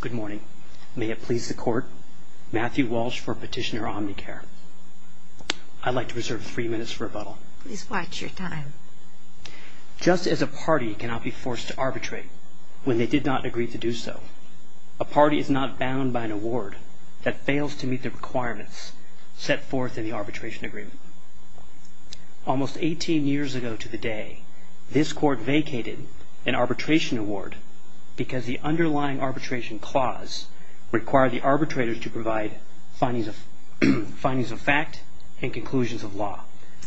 Good morning. May it please the Court, Matthew Walsh for Petitioner Omnicare. I'd like to reserve three minutes for rebuttal. Please watch your time. Just as a party cannot be forced to arbitrate when they did not agree to do so, a party is not bound by an award that fails to meet the requirements set forth in the arbitration agreement. Almost 18 years ago to the day, this Court vacated an arbitration award because the underlying arbitration clause required the arbitrators to provide findings of fact and conclusions of law,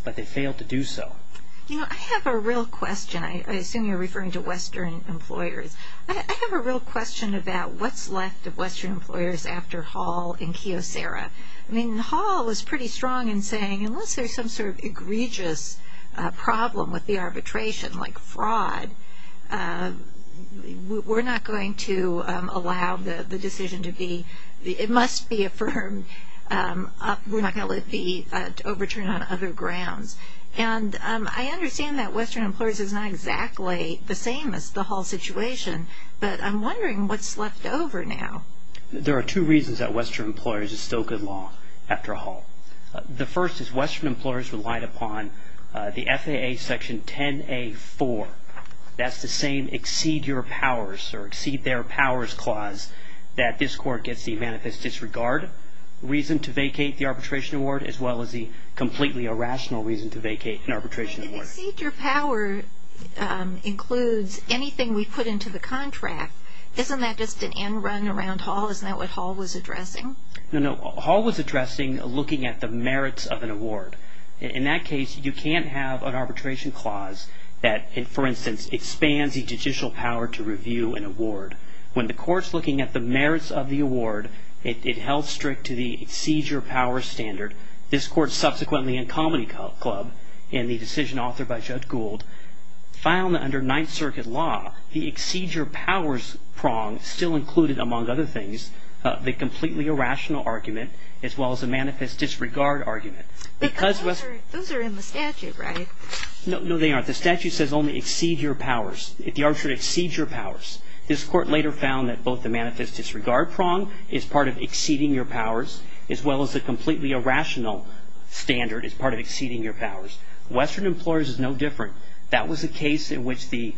but they failed to do so. I have a real question. I assume you're referring to Western employers. I have a real question about what's left of Western employers after Hall and Kiyosera. I mean, Hall was pretty strong in saying unless there's some sort of egregious problem with the arbitration, like fraud, we're not going to allow the decision to be, it must be affirmed, we're not going to let it be overturned on other grounds. And I understand that Western employers is not exactly the same as the Hall situation, but I'm wondering what's left over now. There are two reasons that Western employers is still good law after Hall. The first is Western employers relied upon the FAA section 10A4. That's the same exceed your powers or exceed their powers clause that this Court gets the manifest disregard reason to vacate the arbitration award as well as the completely irrational reason to vacate an arbitration award. But exceed your power includes anything we put into the contract. Isn't that just an end run around Hall? Isn't that what Hall was addressing? No, no. Hall was addressing looking at the merits of an award. In that case, you can't have an arbitration clause that, for instance, expands the judicial power to review an award. When the Court's looking at the merits of the award, it held strict to the exceed your power standard. This Court subsequently in Comedy Club, in the decision authored by Judge Gould, found that under Ninth Circuit law, the exceed your powers prong still included among other things the completely irrational argument as well as the manifest disregard argument. But those are in the statute, right? No, they aren't. The statute says only exceed your powers. If the arbitrator exceeds your powers. This Court later found that both the manifest disregard prong is part of exceeding your powers as well as the completely irrational standard is part of exceeding your powers. Western employers is no different. That was a case in which the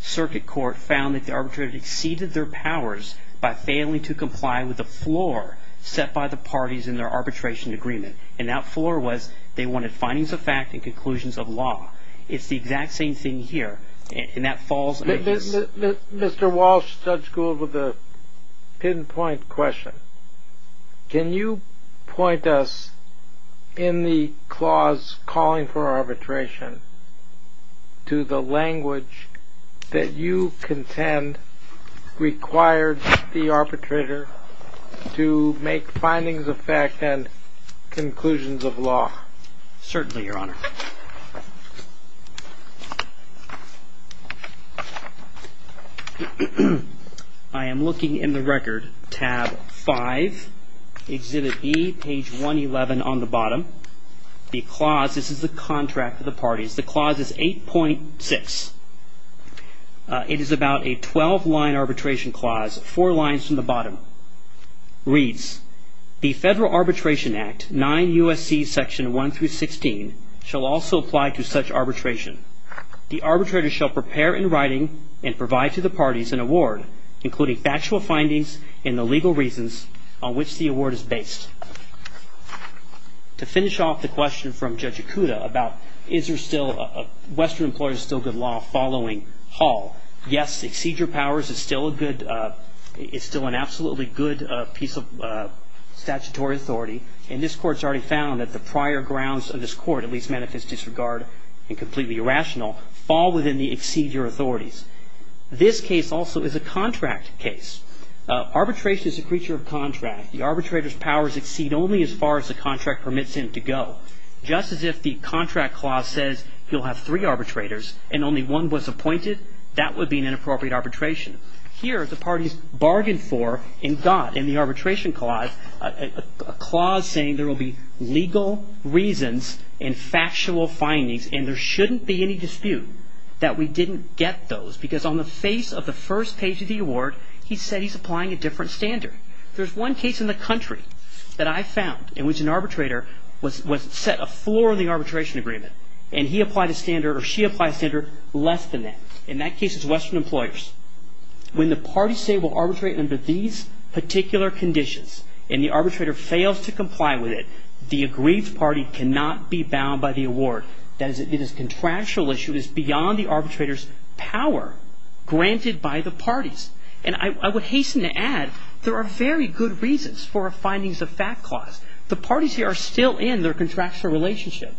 Circuit Court found that the arbitrator exceeded their powers by failing to comply with the floor set by the parties in their arbitration agreement. And that floor was they wanted findings of fact and conclusions of law. It's the exact same thing here. And that falls under this. Mr. Walsh, Judge Gould, with a pinpoint question. Can you point us in the clause calling for arbitration to the language that you contend required the arbitrator to make findings of fact and conclusions of law? Certainly, Your Honor. I am looking in the record. Tab 5, Exhibit B, page 111 on the bottom. The clause, this is the contract of the parties. The clause is 8.6. It is about a 12-line arbitration clause, four lines from the bottom. Reads, the Federal Arbitration Act, 9 U.S.C. section 1 through 16, shall also apply to such arbitration. The arbitrator shall prepare in writing and provide to the parties an award, including factual findings and the legal reasons on which the award is based. To finish off the question from Judge Ikuda about is there still, Western employers still good law following Hall. Yes, excedure powers is still a good, it's still an absolutely good piece of statutory authority. And this court's already found that the prior grounds of this court, at least manifest disregard and completely irrational, fall within the excedure authorities. This case also is a contract case. Arbitration is a creature of contract. The arbitrator's powers exceed only as far as the contract permits him to go. Just as if the contract clause says you'll have three arbitrators and only one was appointed, that would be an inappropriate arbitration. Here, the parties bargained for and got in the arbitration clause, a clause saying there will be legal reasons and factual findings and there shouldn't be any dispute that we didn't get those because on the face of the first page of the award, he said he's applying a different standard. There's one case in the country that I found in which an arbitrator was set a floor in the arbitration agreement and he applied a standard or she applied a standard less than that. In that case, it's Western Employers. When the parties say we'll arbitrate under these particular conditions and the arbitrator fails to comply with it, the agreed party cannot be bound by the award. That is, it is a contractual issue. It is beyond the arbitrator's power granted by the parties. And I would hasten to add there are very good reasons for findings of fact clause. The parties here are still in their contractual relationship.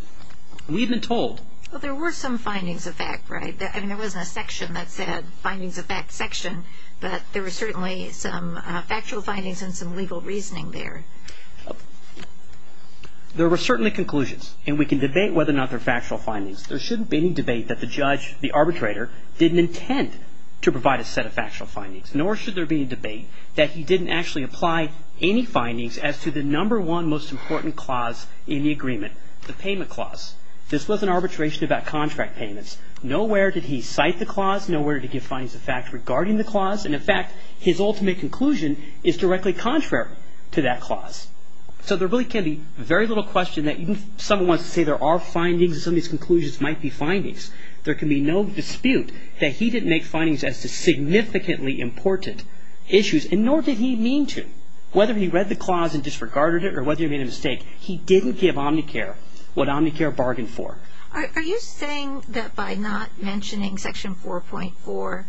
We've been told. Well, there were some findings of fact, right? I mean, there wasn't a section that said findings of fact section, but there were certainly some factual findings and some legal reasoning there. There were certainly conclusions, and we can debate whether or not they're factual findings. There shouldn't be any debate that the judge, the arbitrator, didn't intend to provide a set of factual findings, nor should there be a debate that he didn't actually apply any findings as to the number one most important clause in the agreement, the payment clause. This wasn't arbitration about contract payments. Nowhere did he cite the clause. Nowhere did he give findings of fact regarding the clause. And, in fact, his ultimate conclusion is directly contrary to that clause. So there really can be very little question that someone wants to say there are findings and some of these conclusions might be findings. There can be no dispute that he didn't make findings as to significantly important issues, and nor did he mean to. Whether he read the clause and disregarded it or whether he made a mistake, he didn't give Omnicare what Omnicare bargained for. Are you saying that by not mentioning Section 4.4,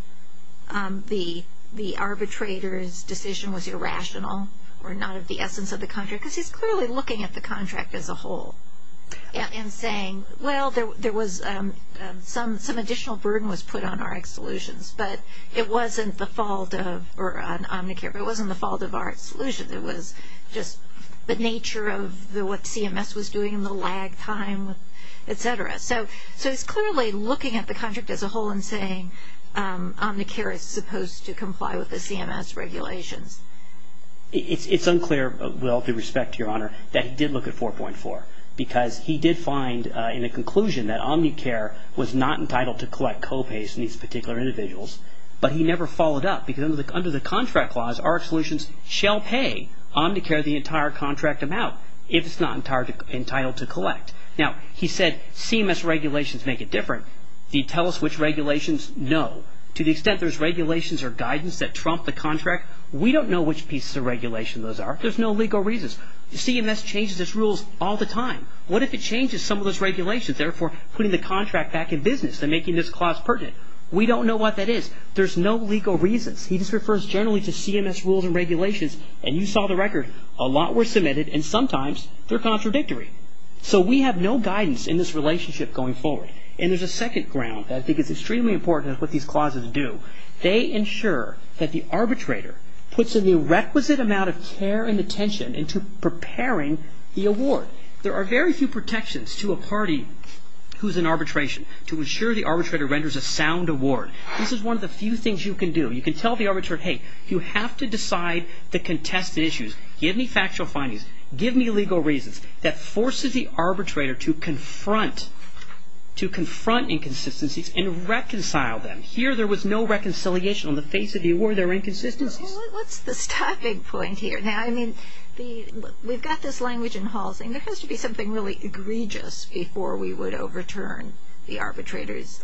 the arbitrator's decision was irrational or not of the essence of the contract? Because he's clearly looking at the contract as a whole and saying, well, there was some additional burden was put on RX Solutions, but it wasn't the fault of Omnicare. It wasn't the fault of RX Solutions. It was just the nature of what CMS was doing and the lag time, et cetera. So he's clearly looking at the contract as a whole and saying Omnicare is supposed to comply with the CMS regulations. It's unclear, with all due respect to Your Honor, that he did look at 4.4 because he did find in a conclusion that Omnicare was not entitled to collect co-pays from these particular individuals, but he never followed up because under the contract clause, RX Solutions shall pay Omnicare the entire contract amount if it's not entitled to collect. Now, he said CMS regulations make it different. Do you tell us which regulations? No. To the extent there's regulations or guidance that trump the contract, we don't know which pieces of regulation those are. There's no legal reasons. CMS changes its rules all the time. What if it changes some of those regulations, therefore putting the contract back in business and making this clause pertinent? We don't know what that is. There's no legal reasons. He just refers generally to CMS rules and regulations, and you saw the record. A lot were submitted, and sometimes they're contradictory. So we have no guidance in this relationship going forward. And there's a second ground that I think is extremely important in what these clauses do. They ensure that the arbitrator puts in the requisite amount of care and attention into preparing the award. There are very few protections to a party who's in arbitration to ensure the arbitrator renders a sound award. This is one of the few things you can do. You can tell the arbitrator, hey, you have to decide the contested issues. Give me factual findings. Give me legal reasons. That forces the arbitrator to confront inconsistencies and reconcile them. Here there was no reconciliation on the face of the award. There were inconsistencies. What's the stopping point here? Now, I mean, we've got this language in halls, and there has to be something really egregious before we would overturn the arbitrator's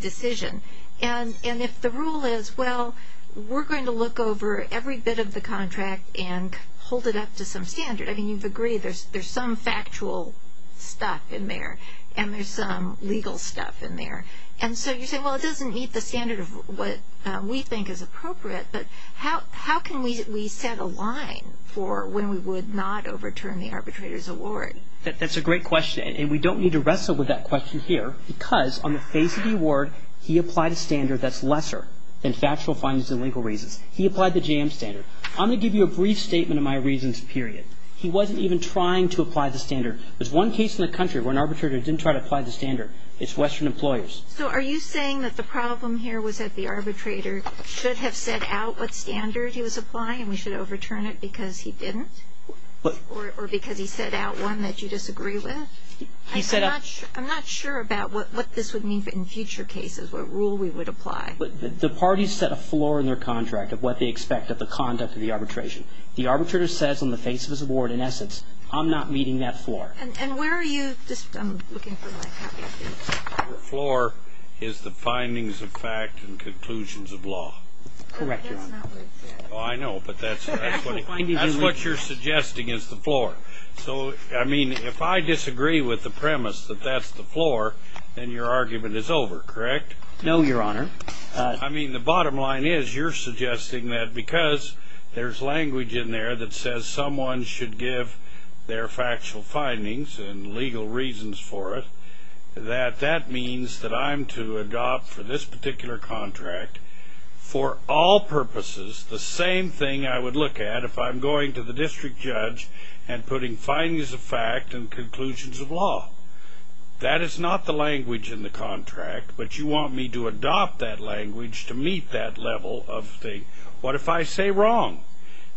decision. And if the rule is, well, we're going to look over every bit of the contract and hold it up to some standard, I mean, you'd agree there's some factual stuff in there and there's some legal stuff in there. And so you say, well, it doesn't meet the standard of what we think is appropriate, but how can we set a line for when we would not overturn the arbitrator's award? That's a great question, and we don't need to wrestle with that question here because on the face of the award, he applied a standard that's lesser than factual findings and legal reasons. He applied the JAMS standard. I'm going to give you a brief statement of my reasons, period. He wasn't even trying to apply the standard. There's one case in the country where an arbitrator didn't try to apply the standard. It's Western Employers. So are you saying that the problem here was that the arbitrator should have set out what standard he was applying and we should overturn it because he didn't or because he set out one that you disagree with? I'm not sure about what this would mean in future cases, what rule we would apply. The parties set a floor in their contract of what they expect of the conduct of the arbitration. The arbitrator says on the face of his award, in essence, I'm not meeting that floor. And where are you? The floor is the findings of fact and conclusions of law. Correct, Your Honor. I know, but that's what you're suggesting is the floor. So, I mean, if I disagree with the premise that that's the floor, then your argument is over, correct? No, Your Honor. I mean, the bottom line is you're suggesting that because there's language in there that says someone should give their factual findings and legal reasons for it, that that means that I'm to adopt for this particular contract for all purposes the same thing I would look at if I'm going to the district judge and putting findings of fact and conclusions of law. That is not the language in the contract, but you want me to adopt that language to meet that level of thing. What if I say wrong?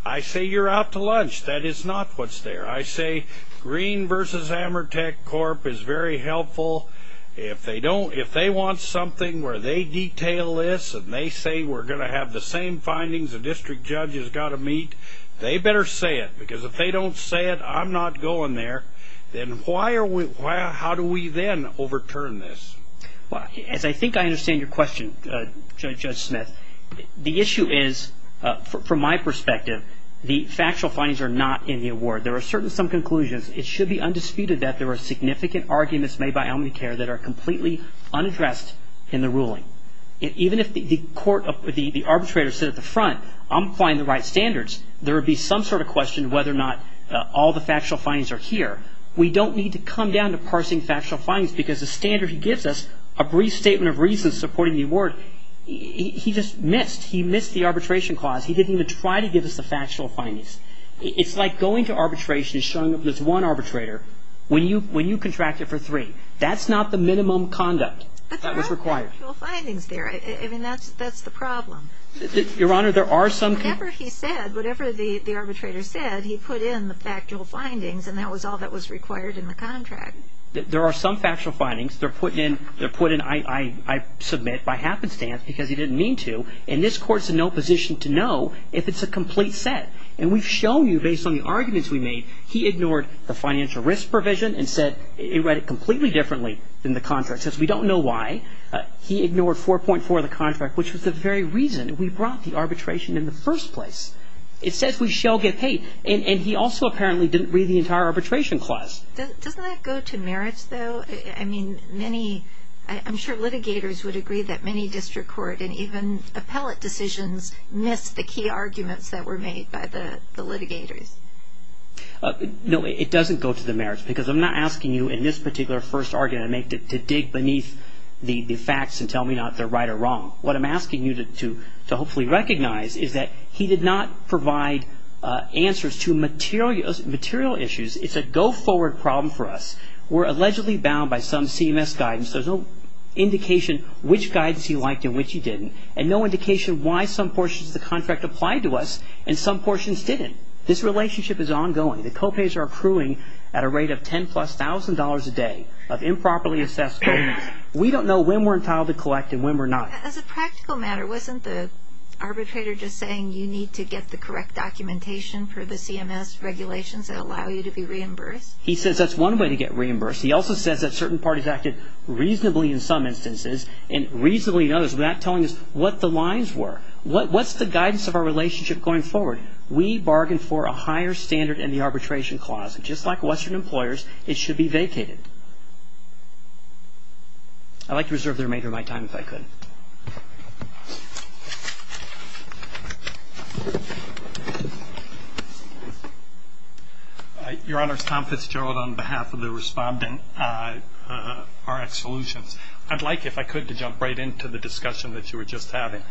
I say you're out to lunch. That is not what's there. I say Green v. Amertech Corp. is very helpful. If they want something where they detail this and they say we're going to have the same findings the district judge has got to meet, they better say it because if they don't say it, I'm not going there. Then how do we then overturn this? Well, as I think I understand your question, Judge Smith, the issue is, from my perspective, the factual findings are not in the award. There are certainly some conclusions. It should be undisputed that there are significant arguments made by Almiter that are completely unaddressed in the ruling. Even if the arbitrator said at the front, I'm applying the right standards, there would be some sort of question whether or not all the factual findings are here. We don't need to come down to parsing factual findings because the standard he gives us, a brief statement of reasons supporting the award, he just missed. He missed the arbitration clause. He didn't even try to give us the factual findings. It's like going to arbitration and showing there's one arbitrator when you contract it for three. That's not the minimum conduct that was required. But there are factual findings there. I mean, that's the problem. Your Honor, there are some. Whatever he said, whatever the arbitrator said, he put in the factual findings and that was all that was required in the contract. There are some factual findings. They're put in, I submit, by happenstance because he didn't mean to. And this Court's in no position to know if it's a complete set. And we've shown you, based on the arguments we made, he ignored the financial risk provision and said it read it completely differently than the contract. He says we don't know why. He ignored 4.4 of the contract, which was the very reason we brought the arbitration in the first place. It says we shall get paid. And he also apparently didn't read the entire arbitration clause. Doesn't that go to merits, though? I mean, many, I'm sure litigators would agree that many district court and even appellate decisions miss the key arguments that were made by the litigators. No, it doesn't go to the merits because I'm not asking you in this particular first argument to dig beneath the facts and tell me if they're right or wrong. What I'm asking you to hopefully recognize is that he did not provide answers to material issues. It's a go-forward problem for us. We're allegedly bound by some CMS guidance. There's no indication which guidance he liked and which he didn't and no indication why some portions of the contract applied to us and some portions didn't. This relationship is ongoing. The co-pays are accruing at a rate of $10,000-plus a day of improperly assessed payments. We don't know when we're entitled to collect and when we're not. As a practical matter, wasn't the arbitrator just saying you need to get the correct documentation for the CMS regulations that allow you to be reimbursed? He says that's one way to get reimbursed. He also says that certain parties acted reasonably in some instances and reasonably in others without telling us what the lines were. What's the guidance of our relationship going forward? We bargained for a higher standard in the arbitration clause. Just like Western employers, it should be vacated. I'd like to reserve the remainder of my time if I could. Your Honors, Tom Fitzgerald on behalf of the respondent, RX Solutions. I'd like, if I could, to jump right into the discussion that you were just having.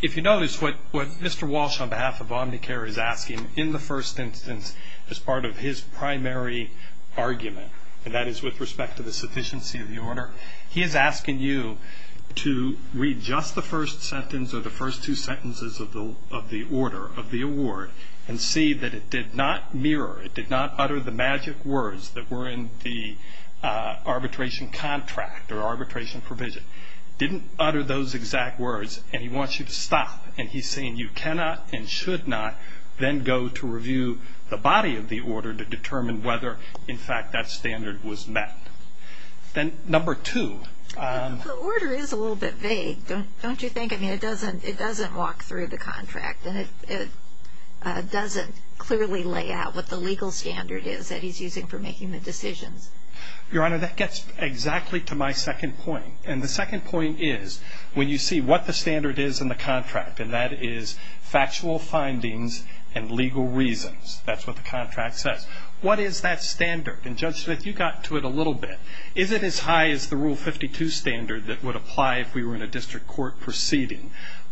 If you notice, what Mr. Walsh on behalf of Omnicare is asking, in the first instance, as part of his primary argument, and that is with respect to the sufficiency of the order, he is asking you to read just the first sentence or the first two sentences of the order, of the award, and see that it did not mirror, it did not utter the magic words that were in the arbitration contract or arbitration provision. It didn't utter those exact words, and he wants you to stop. And he's saying you cannot and should not then go to review the body of the order to determine whether, in fact, that standard was met. Then number two. The order is a little bit vague, don't you think? I mean, it doesn't walk through the contract, and it doesn't clearly lay out what the legal standard is that he's using for making the decisions. Your Honor, that gets exactly to my second point, and the second point is when you see what the standard is in the contract, and that is factual findings and legal reasons. That's what the contract says. What is that standard? And Judge Smith, you got to it a little bit. Is it as high as the Rule 52 standard that would apply if we were in a district court proceeding?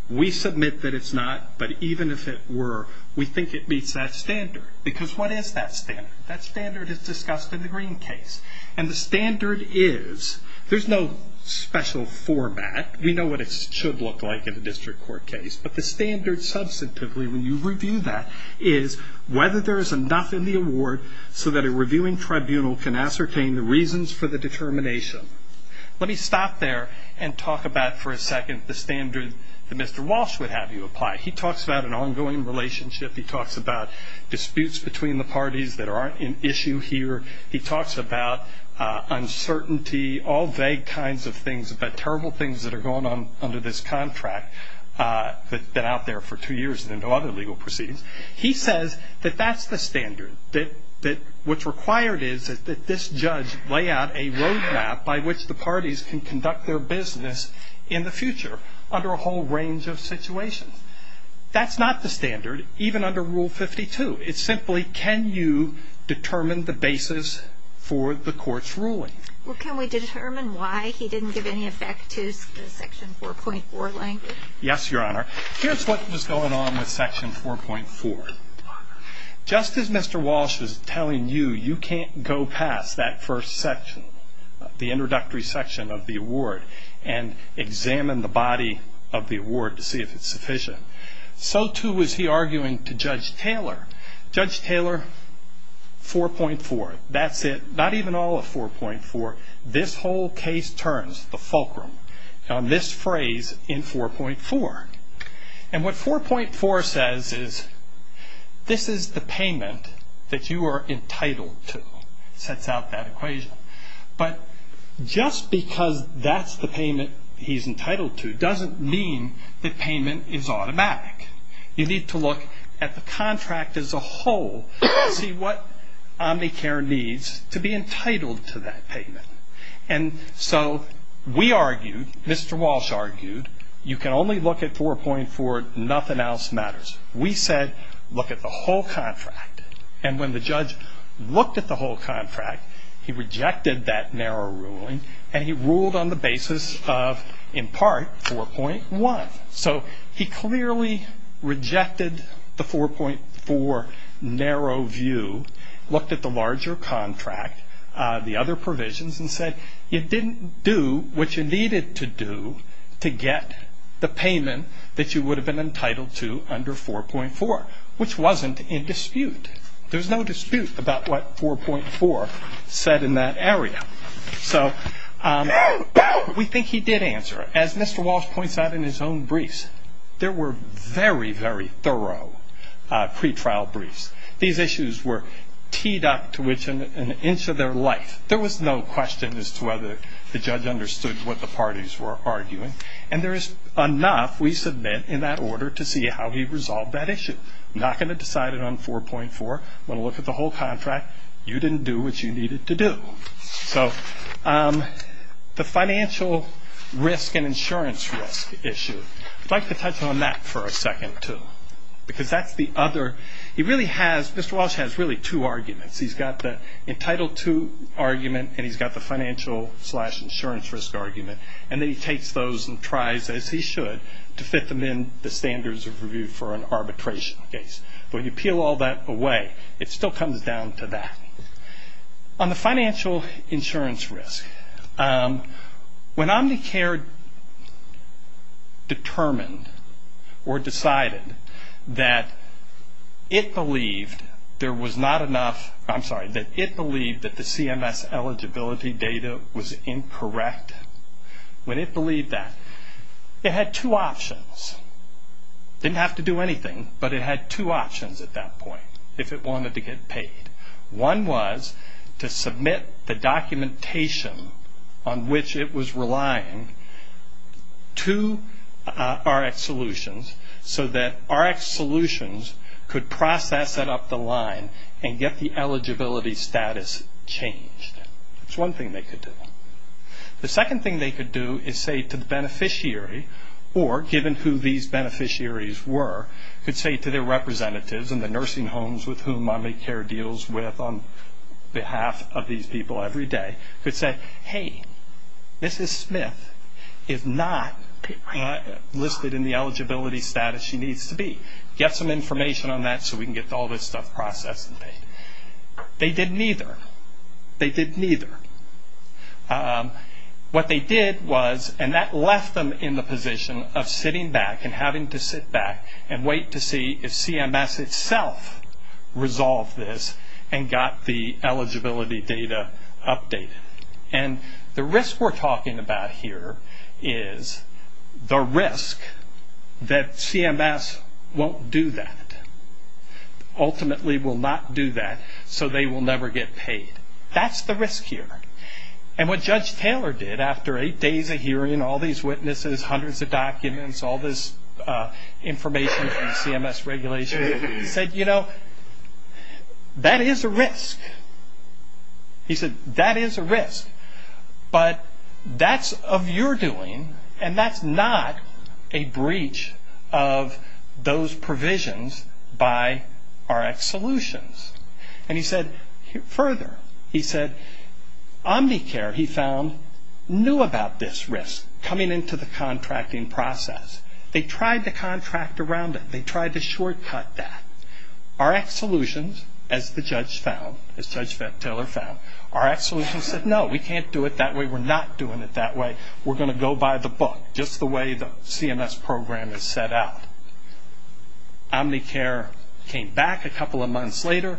We submit that it's not, but even if it were, we think it meets that standard. Because what is that standard? That standard is discussed in the Green case. And the standard is, there's no special format. We know what it should look like in a district court case, but the standard substantively when you review that is whether there is enough in the award so that a reviewing tribunal can ascertain the reasons for the determination. Let me stop there and talk about for a second the standard that Mr. Walsh would have you apply. He talks about an ongoing relationship. He talks about disputes between the parties that aren't an issue here. He talks about uncertainty, all vague kinds of things, about terrible things that are going on under this contract that have been out there for two years and no other legal proceedings. He says that that's the standard, that what's required is that this judge lay out a roadmap by which the parties can conduct their business in the future under a whole range of situations. That's not the standard even under Rule 52. It's simply can you determine the basis for the court's ruling? Well, can we determine why he didn't give any effect to the Section 4.4 language? Yes, Your Honor. Here's what was going on with Section 4.4. Just as Mr. Walsh was telling you you can't go past that first section, the introductory section of the award, and examine the body of the award to see if it's sufficient, so too was he arguing to Judge Taylor. Judge Taylor, 4.4, that's it. Not even all of 4.4. This whole case turns the fulcrum on this phrase in 4.4. And what 4.4 says is this is the payment that you are entitled to. It sets out that equation. But just because that's the payment he's entitled to doesn't mean the payment is automatic. You need to look at the contract as a whole to see what Omnicare needs to be entitled to that payment. And so we argued, Mr. Walsh argued, you can only look at 4.4, nothing else matters. We said look at the whole contract. And when the judge looked at the whole contract, he rejected that narrow ruling, and he ruled on the basis of, in part, 4.1. So he clearly rejected the 4.4 narrow view, looked at the larger contract, the other provisions, and said you didn't do what you needed to do to get the payment that you would have been entitled to under 4.4, which wasn't in dispute. There was no dispute about what 4.4 said in that area. So we think he did answer. As Mr. Walsh points out in his own briefs, there were very, very thorough pretrial briefs. These issues were teed up to an inch of their life. There was no question as to whether the judge understood what the parties were arguing. And there is enough we submit in that order to see how he resolved that issue. I'm not going to decide it on 4.4. I'm going to look at the whole contract. You didn't do what you needed to do. So the financial risk and insurance risk issue, I'd like to touch on that for a second too, because that's the other. He really has, Mr. Walsh has really two arguments. He's got the entitled to argument, and he's got the financial slash insurance risk argument. And then he takes those and tries, as he should, to fit them in the standards of review for an arbitration case. When you peel all that away, it still comes down to that. On the financial insurance risk, when Omnicare determined or decided that it believed that the CMS eligibility data was incorrect, when it believed that, it had two options. It didn't have to do anything, but it had two options at that point if it wanted to get paid. One was to submit the documentation on which it was relying to RxSolutions so that RxSolutions could process it up the line and get the eligibility status changed. That's one thing they could do. The second thing they could do is say to the beneficiary, or given who these beneficiaries were, could say to their representatives in the nursing homes with whom Omnicare deals with on behalf of these people every day, could say, hey, Mrs. Smith is not listed in the eligibility status she needs to be. Get some information on that so we can get all this stuff processed and paid. They did neither. They did neither. What they did was, and that left them in the position of sitting back and having to sit back and wait to see if CMS itself resolved this and got the eligibility data updated. The risk we're talking about here is the risk that CMS won't do that, ultimately will not do that, so they will never get paid. That's the risk here. What Judge Taylor did after eight days of hearing all these witnesses, hundreds of documents, all this information and CMS regulation, he said, you know, that is a risk. He said, that is a risk, but that's of your doing, and that's not a breach of those provisions by RxSolutions. And he said further, he said Omnicare, he found, knew about this risk, coming into the contracting process. They tried to contract around it. They tried to shortcut that. RxSolutions, as the judge found, as Judge Taylor found, RxSolutions said, no, we can't do it that way. We're not doing it that way. We're going to go by the book, just the way the CMS program is set out. Omnicare came back a couple of months later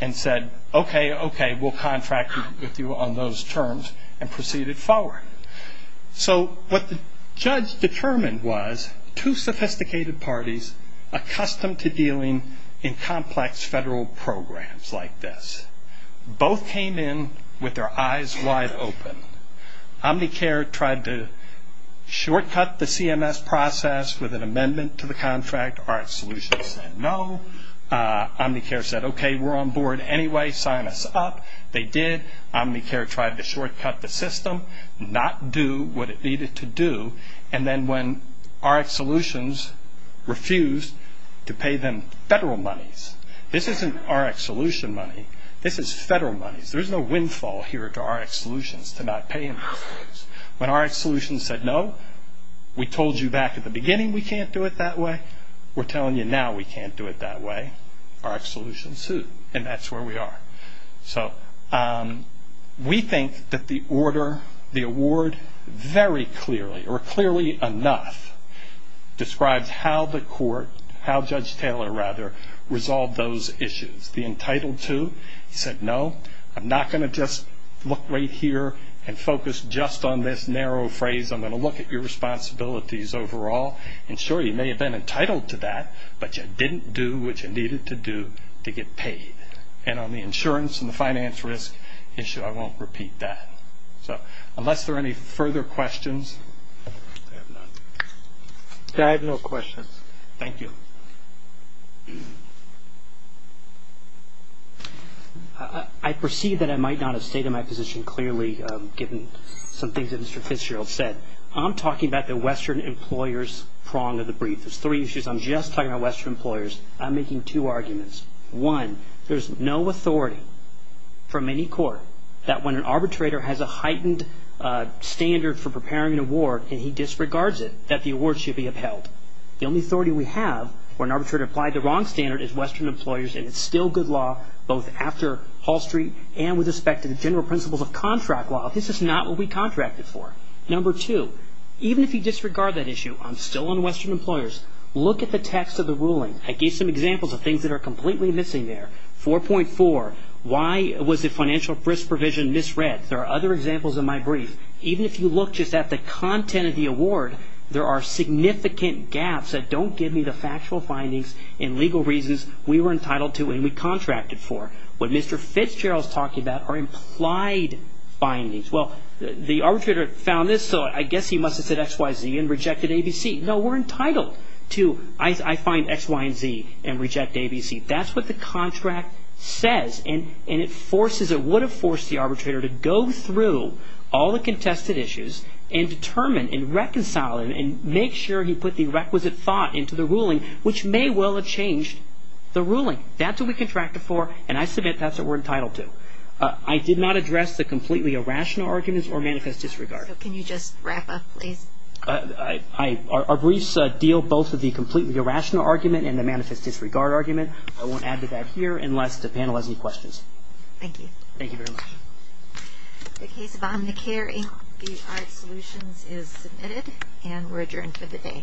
and said, okay, okay, we'll contract with you on those terms and proceeded forward. So what the judge determined was two sophisticated parties accustomed to dealing in complex federal programs like this. Both came in with their eyes wide open. Omnicare tried to shortcut the CMS process with an amendment to the contract. RxSolutions said no. Omnicare said, okay, we're on board anyway. They signed us up. They did. Omnicare tried to shortcut the system, not do what it needed to do, and then when RxSolutions refused to pay them federal monies. This isn't RxSolution money. This is federal monies. There's no windfall here to RxSolutions to not pay them. When RxSolutions said no, we told you back at the beginning we can't do it that way. We're telling you now we can't do it that way. RxSolutions sued, and that's where we are. So we think that the order, the award, very clearly, or clearly enough, describes how the court, how Judge Taylor, rather, resolved those issues. The entitled to said no, I'm not going to just look right here and focus just on this narrow phrase. I'm going to look at your responsibilities overall, and sure, you may have been entitled to that, but you didn't do what you needed to do to get paid. And on the insurance and the finance risk issue, I won't repeat that. So unless there are any further questions. I have no questions. Thank you. I perceive that I might not have stayed in my position clearly, given some things that Mr. Fitzgerald said. I'm talking about the Western employer's prong of the brief. There's three issues. I'm just talking about Western employers. I'm making two arguments. One, there's no authority from any court that when an arbitrator has a heightened standard for preparing an award and he disregards it, that the award should be upheld. The only authority we have when an arbitrator applied the wrong standard is Western employers, and it's still good law, both after Hall Street and with respect to the general principles of contract law. This is not what we contracted for. Number two, even if you disregard that issue, I'm still on Western employers. Look at the text of the ruling. I gave some examples of things that are completely missing there. 4.4, why was the financial risk provision misread? There are other examples in my brief. Even if you look just at the content of the award, there are significant gaps that don't give me the factual findings and legal reasons we were entitled to and we contracted for. What Mr. Fitzgerald is talking about are implied findings. Well, the arbitrator found this, so I guess he must have said X, Y, Z and rejected A, B, C. No, we're entitled to, I find X, Y, and Z and reject A, B, C. That's what the contract says, and it forces or would have forced the arbitrator to go through all the contested issues and determine and reconcile and make sure he put the requisite thought into the ruling, which may well have changed the ruling. That's what we contracted for, and I submit that's what we're entitled to. I did not address the completely irrational arguments or manifest disregard. So can you just wrap up, please? Our briefs deal both with the completely irrational argument and the manifest disregard argument. I won't add to that here unless the panel has any questions. Thank you. Thank you very much. The case of Omnicare, Inc., BHI Solutions is submitted and we're adjourned for the day. All rise.